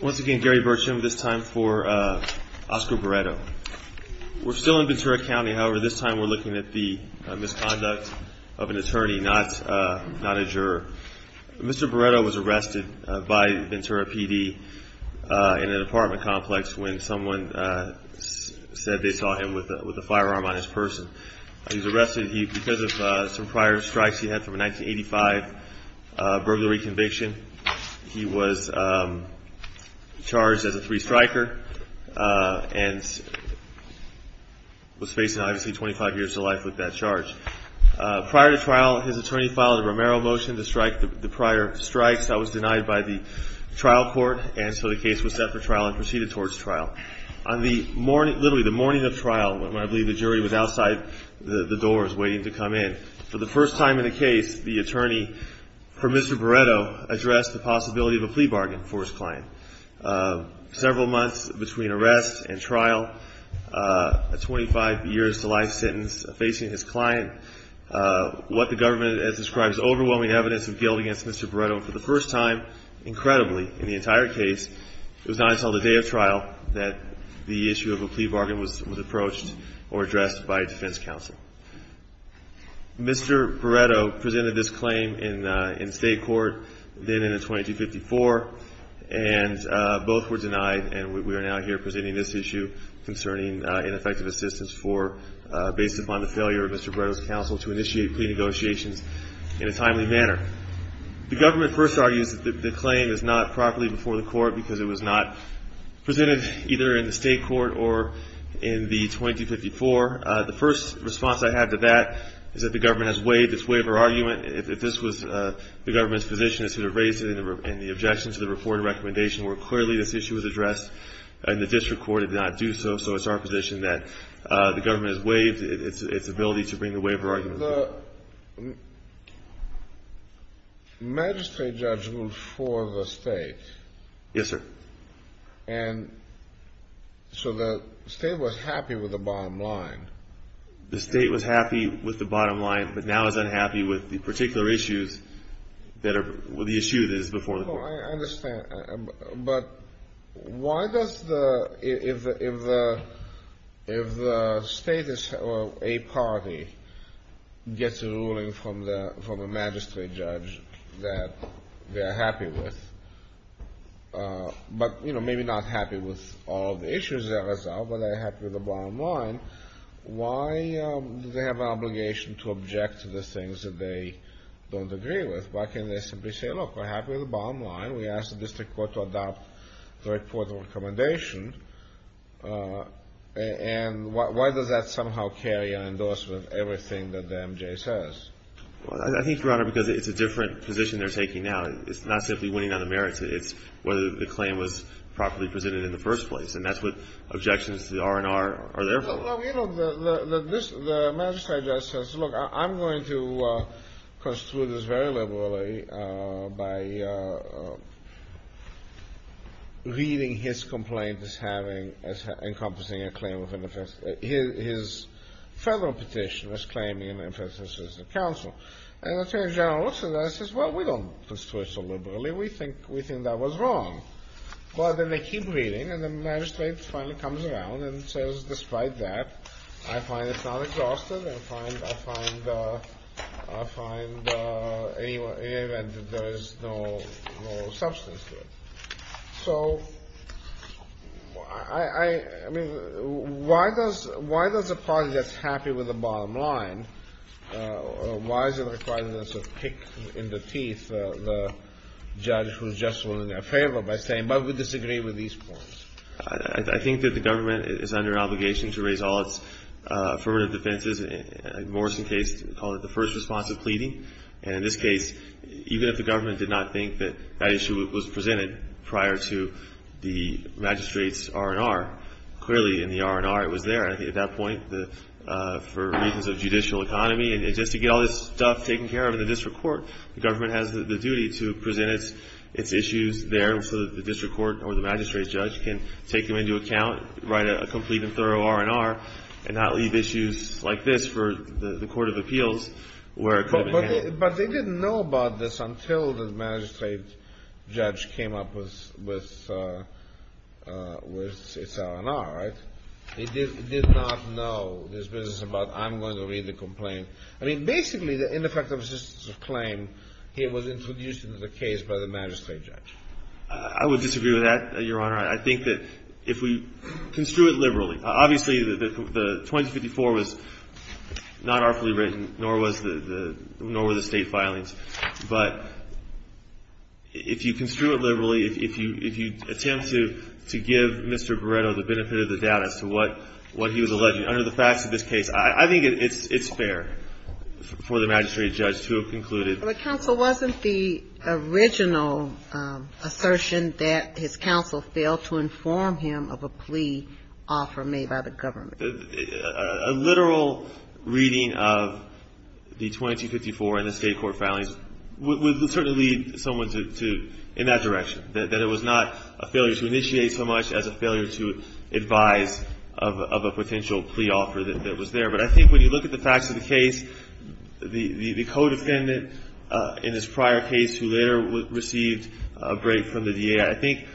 Once again, Gary Burcham, this time for Oscar Barretto. We're still in Ventura County, however this time we're looking at the misconduct of an attorney, not a juror. Mr. Barretto was arrested by Ventura PD in an apartment complex when someone said they saw him with a firearm on his person. He was arrested because of some prior strikes he had from a 1985 burglary conviction. He was charged as a three-striker and was facing, obviously, 25 years to life with that charge. Prior to trial, his attorney filed a Romero motion to strike the prior strikes. That was denied by the trial court, and so the case was set for trial and proceeded towards trial. On the morning, literally the morning of trial, when I believe the jury was outside the doors waiting to come in, for the first time in the case, the attorney, for Mr. Barretto, addressed the possibility of a plea bargain for his client. Several months between arrest and trial, a 25 years to life sentence facing his client, what the government has described as overwhelming evidence of guilt against Mr. Barretto. For the first time, incredibly, in the entire case, it was not until the day of trial that the issue of a plea bargain was approached or addressed by a defense counsel. Mr. Barretto presented this claim in state court, then in a 2254, and both were denied, and we are now here presenting this issue concerning ineffective assistance based upon the failure of Mr. Barretto's counsel to initiate plea negotiations in a timely manner. The government first argues that the claim is not properly before the court because it was not presented either in the state court or in the 2254. The first response I have to that is that the government has waived its waiver argument. If this was the government's position, it should have raised it in the objection to the reported recommendation, where clearly this issue was addressed and the district court did not do so. So it's our position that the government has waived its ability to bring the waiver argument. The magistrate judge ruled for the state. Yes, sir. And so the state was happy with the bottom line. The state was happy with the bottom line, but now is unhappy with the particular issues that are the issue that is before the court. I understand, but why does the, if the state or a party gets a ruling from the magistrate judge that they are happy with, but maybe not happy with all the issues that are resolved, but they are happy with the bottom line, why do they have an obligation to object to the things that they don't agree with? Why can't they simply say, look, we're happy with the bottom line. We asked the district court to adopt the report of recommendation. And why does that somehow carry an endorsement of everything that the MJ says? Well, I think, Your Honor, because it's a different position they're taking now. It's not simply winning on the merits. It's whether the claim was properly presented in the first place. Well, you know, the magistrate judge says, look, I'm going to construe this very liberally by reading his complaint as having, as encompassing a claim of an offense. His federal petition was claiming an emphasis as a counsel. And the attorney general looks at that and says, well, we don't construe it so liberally. We think that was wrong. Well, then they keep reading and the magistrate finally comes around and says, despite that, I find it's not exhaustive. I find, I find, I find in any event that there is no substance to it. So, I mean, why does, why does the party get happy with the bottom line? Why is it required that there's a pick in the teeth of the judge who's just willing to favor by saying, but we disagree with these points? I think that the government is under obligation to raise all its affirmative defenses. In the Morrison case, we call it the first response of pleading. And in this case, even if the government did not think that that issue was presented prior to the magistrate's R&R, clearly in the R&R it was there. At that point, for reasons of judicial economy, and just to get all this stuff taken care of in the district court, the government has the duty to present its issues there so that the district court or the magistrate's judge can take them into account, write a complete and thorough R&R, and not leave issues like this for the court of appeals where it could have been handled. But they didn't know about this until the magistrate judge came up with its R&R, right? They did not know this business about I'm going to read the complaint. I mean, basically, the ineffective assistance of claim here was introduced into the case by the magistrate judge. I would disagree with that, Your Honor. I think that if we construe it liberally. Obviously, the 2054 was not artfully written, nor was the state filings. But if you construe it liberally, if you attempt to give Mr. Beretto the benefit of the doubt as to what he was alleging, under the facts of this case, I think it's fair for the magistrate judge to have concluded. But counsel, wasn't the original assertion that his counsel failed to inform him of a plea offer made by the government? A literal reading of the 2054 and the state court filings would certainly lead someone in that direction, that it was not a failure to initiate so much as a failure to advise of a potential plea offer that was there. But I think when you look at the facts of the case, the co-defendant in this prior case who later received a break from the DA, I think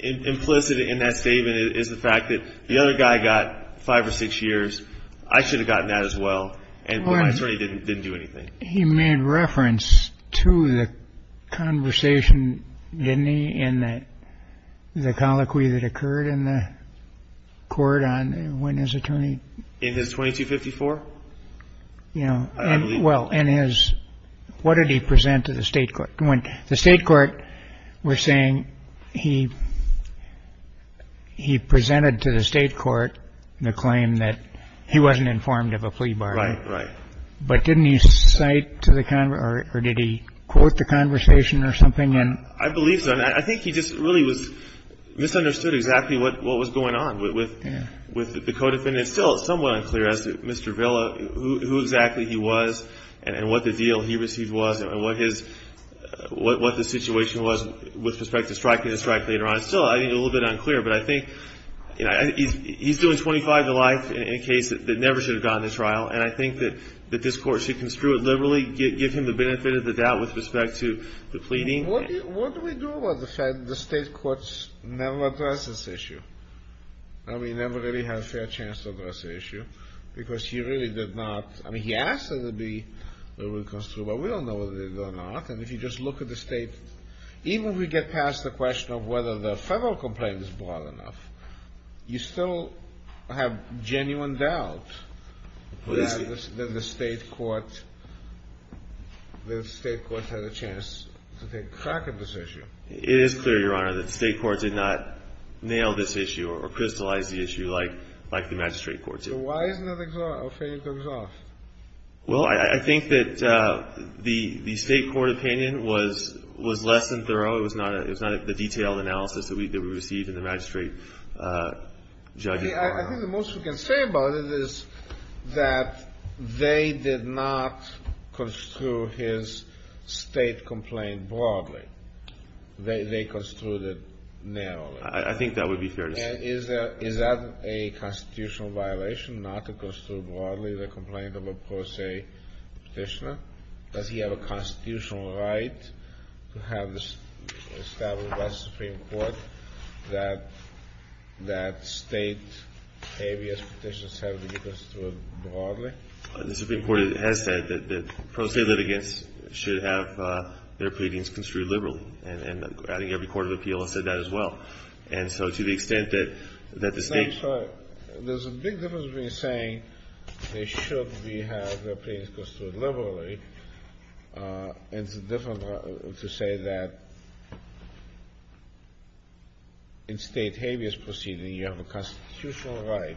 implicit in that statement is the fact that the other guy got five or six years. I should have gotten that as well. And my attorney didn't do anything. He made reference to the conversation, didn't he, in the colloquy that occurred in the court on when his attorney. In his 2254? Yeah. Well, in his. What did he present to the state court? The state court was saying he presented to the state court the claim that he wasn't informed of a plea bargain. Right, right. But didn't he cite to the, or did he quote the conversation or something? I believe so. I think he just really was, misunderstood exactly what was going on with the co-defendant. And it's still somewhat unclear as to Mr. Villa, who exactly he was and what the deal he received was and what his, what the situation was with respect to striking the strike later on. It's still, I think, a little bit unclear. But I think, you know, he's doing 25 to life in a case that never should have gone to trial. And I think that this court should construe it liberally, give him the benefit of the doubt with respect to the pleading. What do we do about the fact that the state courts never address this issue? I mean, never really had a fair chance to address the issue. Because he really did not, I mean, he asked that it be, that it would construe, but we don't know whether they did or not. And if you just look at the state, even if we get past the question of whether the federal complaint is broad enough, you still have genuine doubt that the state court, that the state courts had a chance to take crack at this issue. It is clear, Your Honor, that the state court did not nail this issue or crystallize the issue like the magistrate court did. So why is it not exhaustive? Well, I think that the state court opinion was less than thorough. It was not the detailed analysis that we received in the magistrate judge. I think the most we can say about it is that they did not construe his state complaint broadly. They construed it narrowly. I think that would be fair to say. Is that a constitutional violation not to construe broadly the complaint of a pro se petitioner? Does he have a constitutional right to have this established by the Supreme Court that state ABS petitions have to be construed broadly? The Supreme Court has said that pro se litigants should have their pleadings construed liberally, and I think every court of appeal has said that as well. And so to the extent that the state... There's a big difference between saying they should have their pleadings construed liberally and to say that in state habeas proceeding you have a constitutional right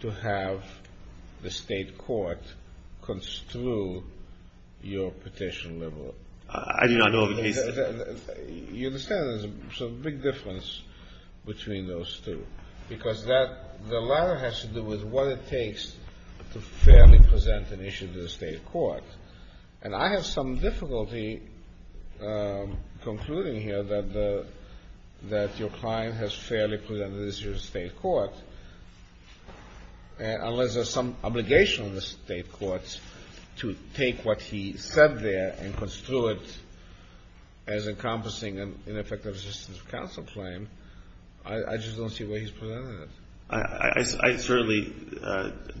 to have the state court construe your petition liberally. I do not know of a case... You understand there's a big difference between those two, because the latter has to do with what it takes to fairly present an issue to the state court. And I have some difficulty concluding here that your client has fairly presented an issue to the state court, unless there's some obligation on the state courts to take what he said there and construe it as encompassing an ineffective assistance of counsel claim. I just don't see where he's presented it. I certainly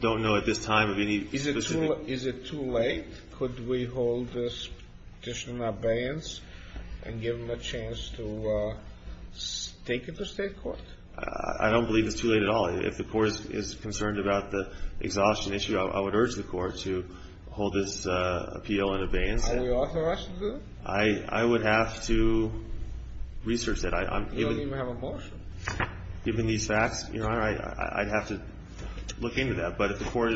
don't know at this time of any specific... Is it too late? Could we hold this petition in abeyance and give him a chance to take it to state court? I don't believe it's too late at all. If the court is concerned about the exhaustion issue, I would urge the court to hold this appeal in abeyance. Are you authorized to do it? I would have to research that. You don't even have a motion. Given these facts, Your Honor, I'd have to look into that. But if the court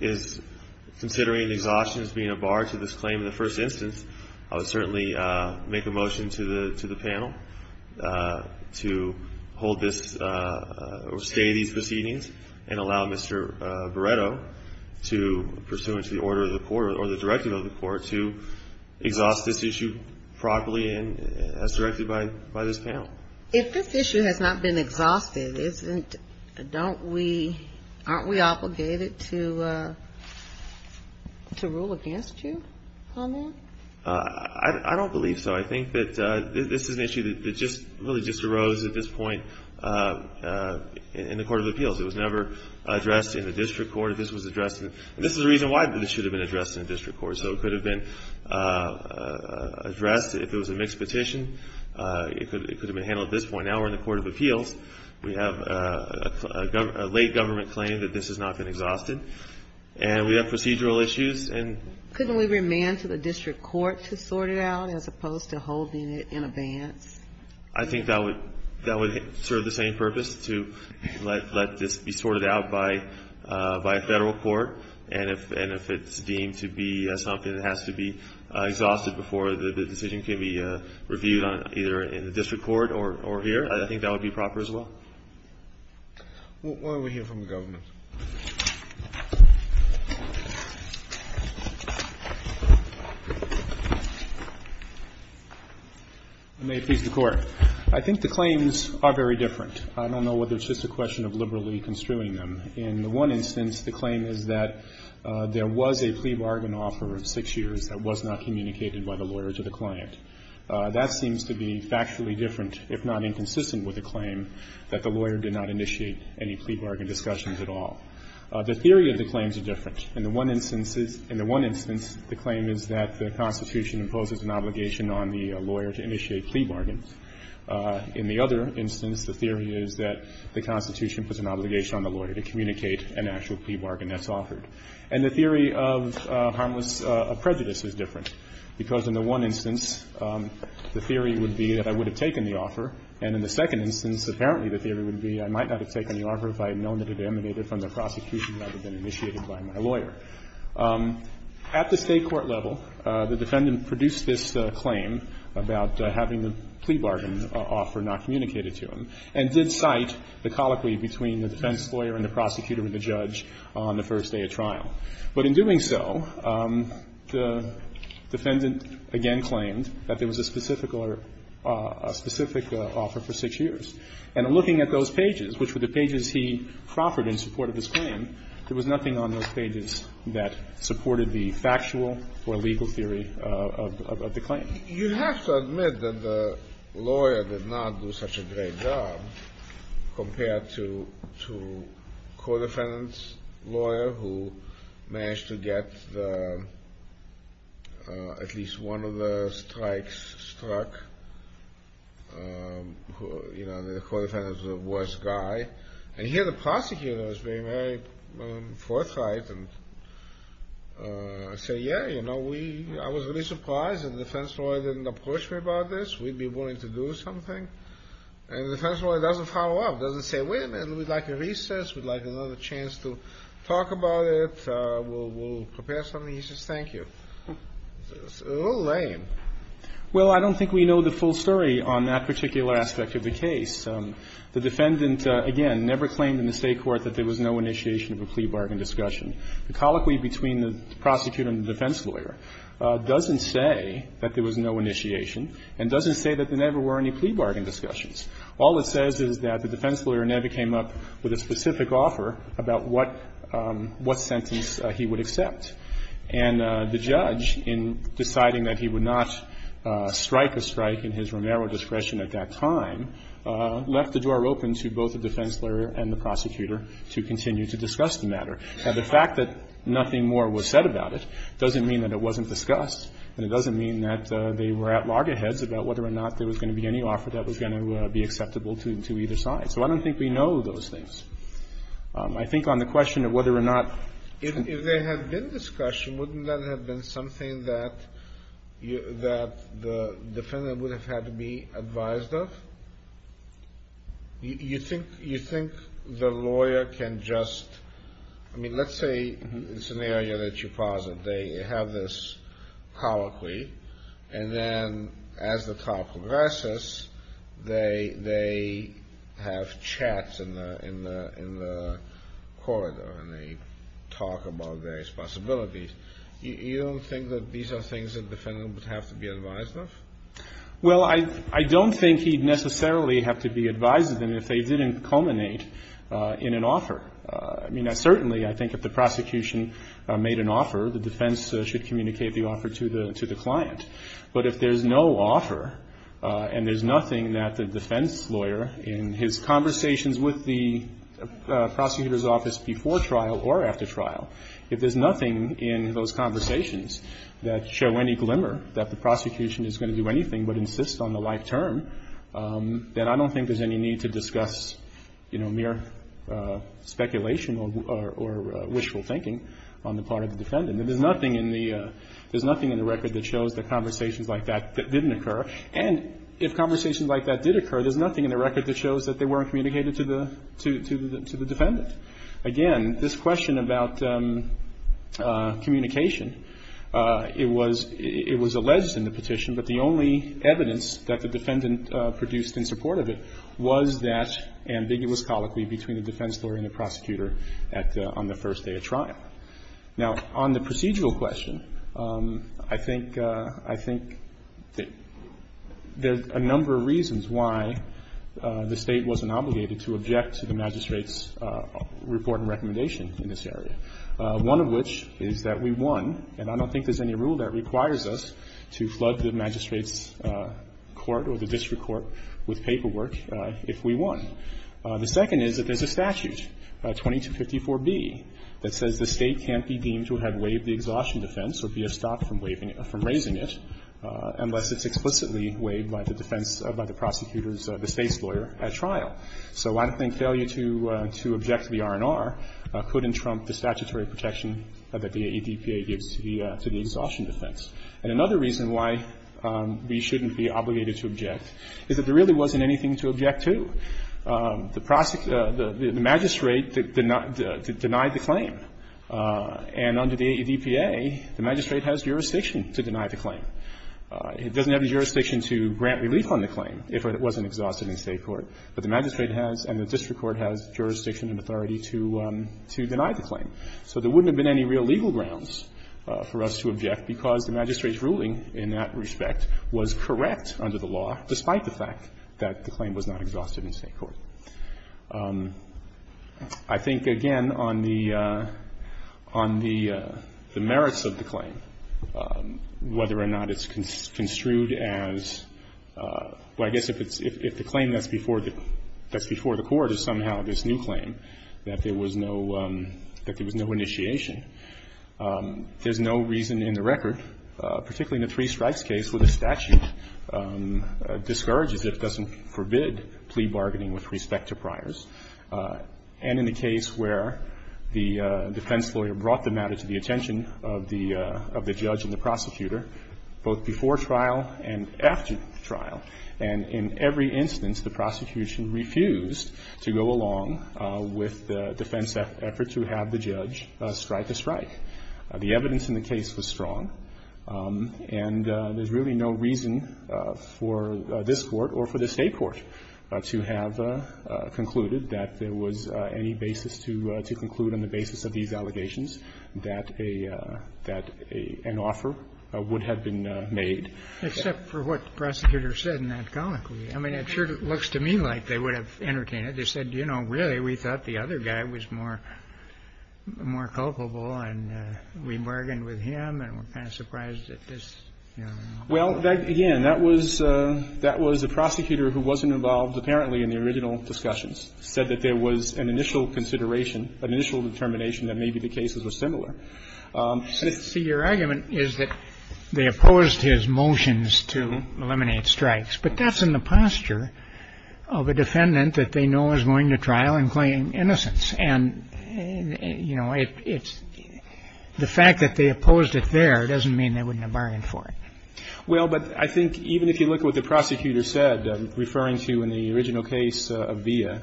is considering exhaustion as being a bar to this claim in the first instance, I would certainly make a motion to the panel to hold this or stay these proceedings and allow Mr. Beretto, pursuant to the order of the court or the directive of the court, to exhaust this issue properly as directed by this panel. If this issue has not been exhausted, aren't we obligated to rule against you on that? I don't believe so. I think that this is an issue that really just arose at this point in the court of appeals. It was never addressed in the district court. This is the reason why it should have been addressed in the district court. So it could have been addressed if it was a mixed petition. It could have been handled at this point. Now we're in the court of appeals. We have a late government claim that this has not been exhausted. And we have procedural issues. Couldn't we remand to the district court to sort it out as opposed to holding it in abeyance? I think that would serve the same purpose, to let this be sorted out by a Federal court. And if it's deemed to be something that has to be exhausted before the decision can be reviewed either in the district court or here, I think that would be proper as well. Why don't we hear from the government? I may appease the Court. I think the claims are very different. I don't know whether it's just a question of liberally construing them. In the one instance, the claim is that there was a plea bargain offer of six years that was not communicated by the lawyer to the client. That seems to be factually different, if not inconsistent, with the claim that the lawyer did not initiate any plea bargain discussions at all. The theory of the claims are different. In the one instance, the claim is that the Constitution imposes an obligation on the lawyer to initiate plea bargains. In the other instance, the theory is that the Constitution puts an obligation on the lawyer to communicate an actual plea bargain that's offered. And the theory of harmless prejudice is different, because in the one instance, the theory would be that I would have taken the offer, and in the second instance, apparently the theory would be I might not have taken the offer if I had known that it emanated from the prosecution rather than initiated by my lawyer. At the State court level, the defendant produced this claim about having the plea bargain deal with the defense lawyer and the prosecutor and the judge on the first day of trial. But in doing so, the defendant, again, claimed that there was a specific offer for six years. And looking at those pages, which were the pages he proffered in support of his claim, there was nothing on those pages that supported the factual or legal theory of the claim. You have to admit that the lawyer did not do such a great job compared to the court defendant's lawyer, who managed to get at least one of the strikes struck. You know, the court defendant was the worst guy. And here the prosecutor was very, very forthright and said, yeah, you know, I was really surprised that the defense lawyer didn't approach me about this. We'd be willing to do something. And the defense lawyer doesn't follow up, doesn't say, wait a minute. We'd like a recess. We'd like another chance to talk about it. We'll prepare something. He says, thank you. It's a little lame. Well, I don't think we know the full story on that particular aspect of the case. The defendant, again, never claimed in the State court that there was no initiation of a plea bargain discussion. The colloquy between the prosecutor and the defense lawyer doesn't say that there was no initiation and doesn't say that there never were any plea bargain discussions. All it says is that the defense lawyer never came up with a specific offer about what sentence he would accept. And the judge, in deciding that he would not strike a strike in his Romero discretion at that time, left the door open to both the defense lawyer and the prosecutor to continue to discuss the matter. Now, the fact that nothing more was said about it doesn't mean that it wasn't discussed and it doesn't mean that they were at loggerheads about whether or not there was going to be any offer that was going to be acceptable to either side. So I don't think we know those things. I think on the question of whether or not to do it. Kennedy. If there had been discussion, wouldn't that have been something that the defendant would have had to be advised of? You think the lawyer can just, I mean, let's say it's an area that you posit. They have this colloquy and then as the trial progresses, they have chats in the corridor and they talk about various possibilities. You don't think that these are things that the defendant would have to be advised of? Well, I don't think he'd necessarily have to be advised of them if they didn't culminate in an offer. I mean, certainly I think if the prosecution made an offer, the defense should communicate the offer to the client. But if there's no offer and there's nothing that the defense lawyer in his conversations with the prosecutor's office before trial or after trial, if there's nothing in those conversations that show any glimmer that the prosecution is going to do anything but insist on the life term, then I don't think there's any need to discuss mere speculation or wishful thinking on the part of the defendant. There's nothing in the record that shows that conversations like that didn't occur. And if conversations like that did occur, there's nothing in the record that shows that they weren't communicated to the defendant. Again, this question about communication, it was alleged in the petition, but the only evidence that the defendant produced in support of it was that ambiguous colloquy between the defense lawyer and the prosecutor on the first day of trial. Now, on the procedural question, I think there's a number of reasons why the State wasn't obligated to object to the magistrate's report and recommendation in this area. One of which is that we won, and I don't think there's any rule that requires us to flood the magistrate's court or the district court with paperwork if we won. The second is that there's a statute, 2254b, that says the State can't be deemed to have waived the exhaustion defense or be stopped from raising it unless it's explicitly waived by the defense, by the prosecutor's, the State's lawyer at trial. So I think failure to object to the R&R couldn't trump the statutory protection that the AEDPA gives to the exhaustion defense. And another reason why we shouldn't be obligated to object is that there really wasn't anything to object to. The magistrate denied the claim. And under the AEDPA, the magistrate has jurisdiction to deny the claim. It doesn't have the jurisdiction to grant relief on the claim if it wasn't exhausted in State court, but the magistrate has and the district court has jurisdiction and authority to deny the claim. So there wouldn't have been any real legal grounds for us to object because the magistrate's ruling in that respect was correct under the law, despite the fact that the claim was not exhausted in State court. I think, again, on the merits of the claim, whether or not it's construed as, well, I guess if the claim that's before the court is somehow this new claim, that there was no initiation, there's no reason in the record, particularly in a three-strikes case where the statute discourages, if doesn't forbid, plea bargaining with respect to priors, and in a case where the defense lawyer brought the matter to the attention of the judge and the prosecutor, both before trial and after trial. And in every instance, the prosecution refused to go along with the defense effort to have the judge strike a strike. The evidence in the case was strong. And there's really no reason for this Court or for the State court to have concluded that there was any basis to conclude on the basis of these allegations that a — that an offer would have been made. Except for what the prosecutor said in that comment. I mean, it sure looks to me like they would have entertained it. They said, you know, really, we thought the other guy was more — more culpable and we bargained with him and were kind of surprised at this, you know. Well, again, that was — that was a prosecutor who wasn't involved, apparently, in the original discussions, said that there was an initial consideration, an initial determination that maybe the cases were similar. See, your argument is that they opposed his motions to eliminate strikes. But that's in the posture of a defendant that they know is going to trial and claiming innocence. And, you know, it's — the fact that they opposed it there doesn't mean they wouldn't have bargained for it. Well, but I think even if you look at what the prosecutor said, referring to in the original case of Villa,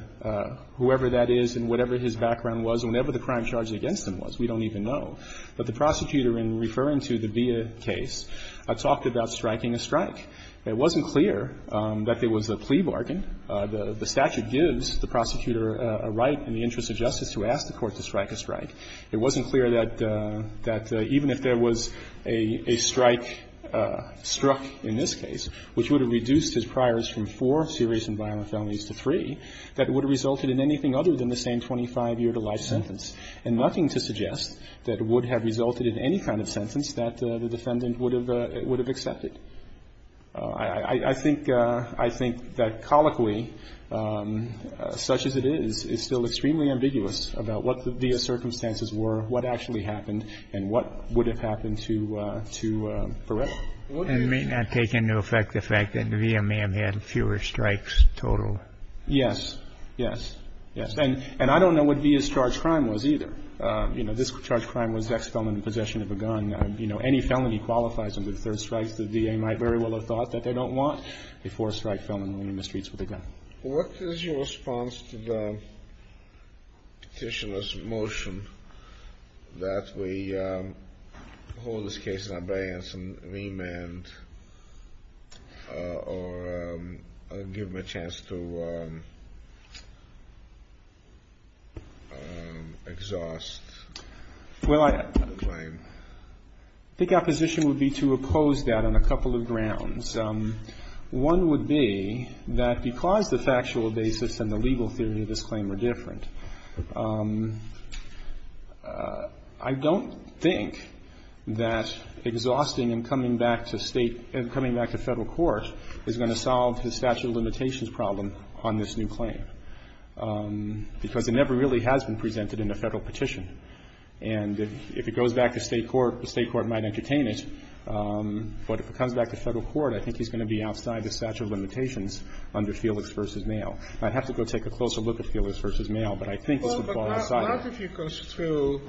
whoever that is and whatever his background was and whatever the crime charge against him was, we don't even know. But the prosecutor, in referring to the Villa case, talked about striking a strike. It wasn't clear that there was a plea bargain. The statute gives the prosecutor a right in the interest of justice to ask the court to strike a strike. It wasn't clear that even if there was a strike struck in this case, which would have reduced his priors from four serious and violent felonies to three, that would have resulted in anything other than the same 25-year-to-life sentence, and nothing to suggest that it would have resulted in any kind of sentence that the defendant would have accepted. I think — I think that colloquially, such as it is, it's still extremely ambiguous about what the Villa circumstances were, what actually happened, and what would have happened to — to Varela. It may not take into effect the fact that Villa may have had fewer strikes total. Yes. Yes. Yes. And I don't know what Villa's charge crime was either. You know, this charge crime was ex-felon in possession of a gun. And, you know, any felony qualifies under the third strike. The DA might very well have thought that they don't want a four-strike felon running in the streets with a gun. What is your response to the petitioner's motion that we hold this case in abeyance and remand or give him a chance to exhaust the claim? Well, I think our position would be to oppose that on a couple of grounds. One would be that because the factual basis and the legal theory of this claim are different, I don't think that exhausting and coming back to State — and coming back to Federal court is going to solve his statute of limitations problem on this new claim. Because it never really has been presented in a Federal petition. And if it goes back to State court, the State court might entertain it. But if it comes back to Federal court, I think he's going to be outside the statute of limitations under Felix v. Mayo. I'd have to go take a closer look at Felix v. Mayo, but I think this would fall inside it. Well, but not if you construe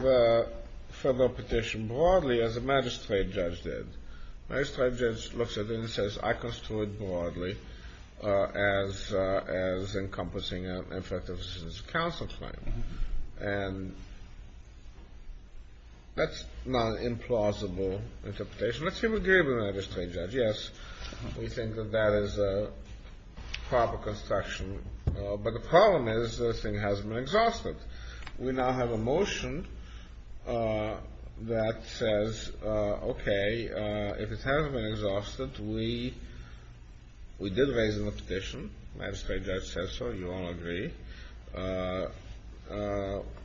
the Federal petition broadly as a magistrate judge did. A magistrate judge looks at it and says, I construe it broadly as encompassing an effective citizen's counsel claim. And that's not an implausible interpretation. Let's see what Gabriel and the magistrate judge. Yes, we think that that is a proper construction. But the problem is this thing hasn't been exhausted. We now have a motion that says, okay, if it hasn't been exhausted, we did raise a petition. The magistrate judge said so. You all agree.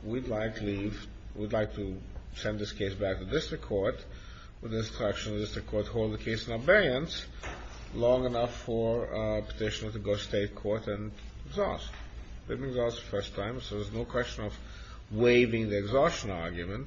We'd like to send this case back to district court with the instruction that the district court hold the case in abeyance long enough for a petitioner to go to State court and exhaust. It hasn't been exhausted the first time, so there's no question of waiving the exhaustion argument.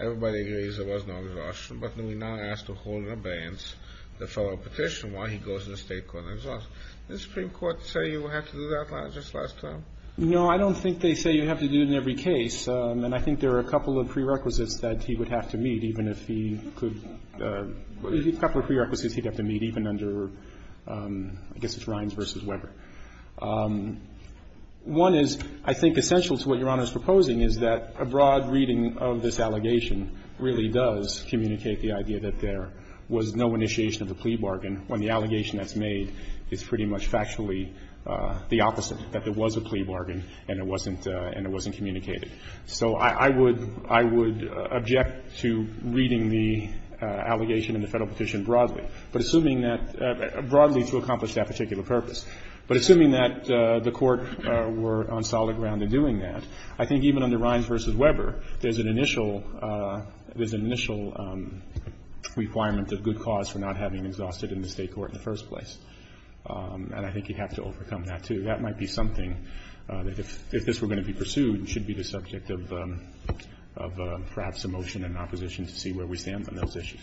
Everybody agrees there was no exhaustion. But then we now ask to hold in abeyance the Federal petition while he goes to the State court and exhausts. Did the Supreme Court say you have to do that just last time? No, I don't think they say you have to do it in every case. And I think there are a couple of prerequisites that he would have to meet, even if he could – a couple of prerequisites he'd have to meet, even under – I guess it's Rhines v. Weber. One is I think essential to what Your Honor is proposing is that a broad reading of this allegation really does communicate the idea that there was no initiation of the plea bargain when the allegation that's made is pretty much factually the opposite, that there was a plea bargain and it wasn't – and it wasn't communicated. So I would – I would object to reading the allegation in the Federal petition broadly, but assuming that – broadly to accomplish that particular purpose. But assuming that the Court were on solid ground in doing that, I think even under Rhines v. Weber, there's an initial – there's an initial requirement of good cause for not having exhausted in the State court in the first place. And I think you'd have to overcome that, too. That might be something that if this were going to be pursued, it should be the subject of perhaps a motion in opposition to see where we stand on those issues.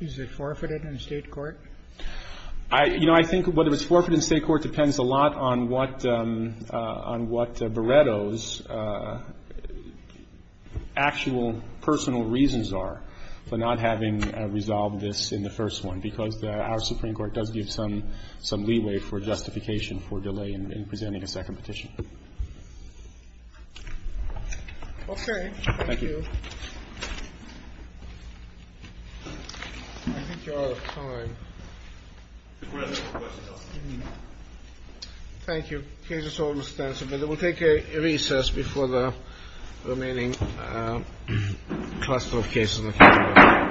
Is it forfeited in the State court? I – you know, I think whether it's forfeited in the State court depends a lot on what – on what Beretto's actual personal reasons are for not having resolved this in the first one, because our Supreme Court does give some – some leeway for justification for delay in presenting a second petition. Okay. Thank you. Thank you. I think we're out of time. We have a couple of questions. Thank you. The case is almost answered, but we'll take a recess before the remaining cluster of cases. All rise. Thank you.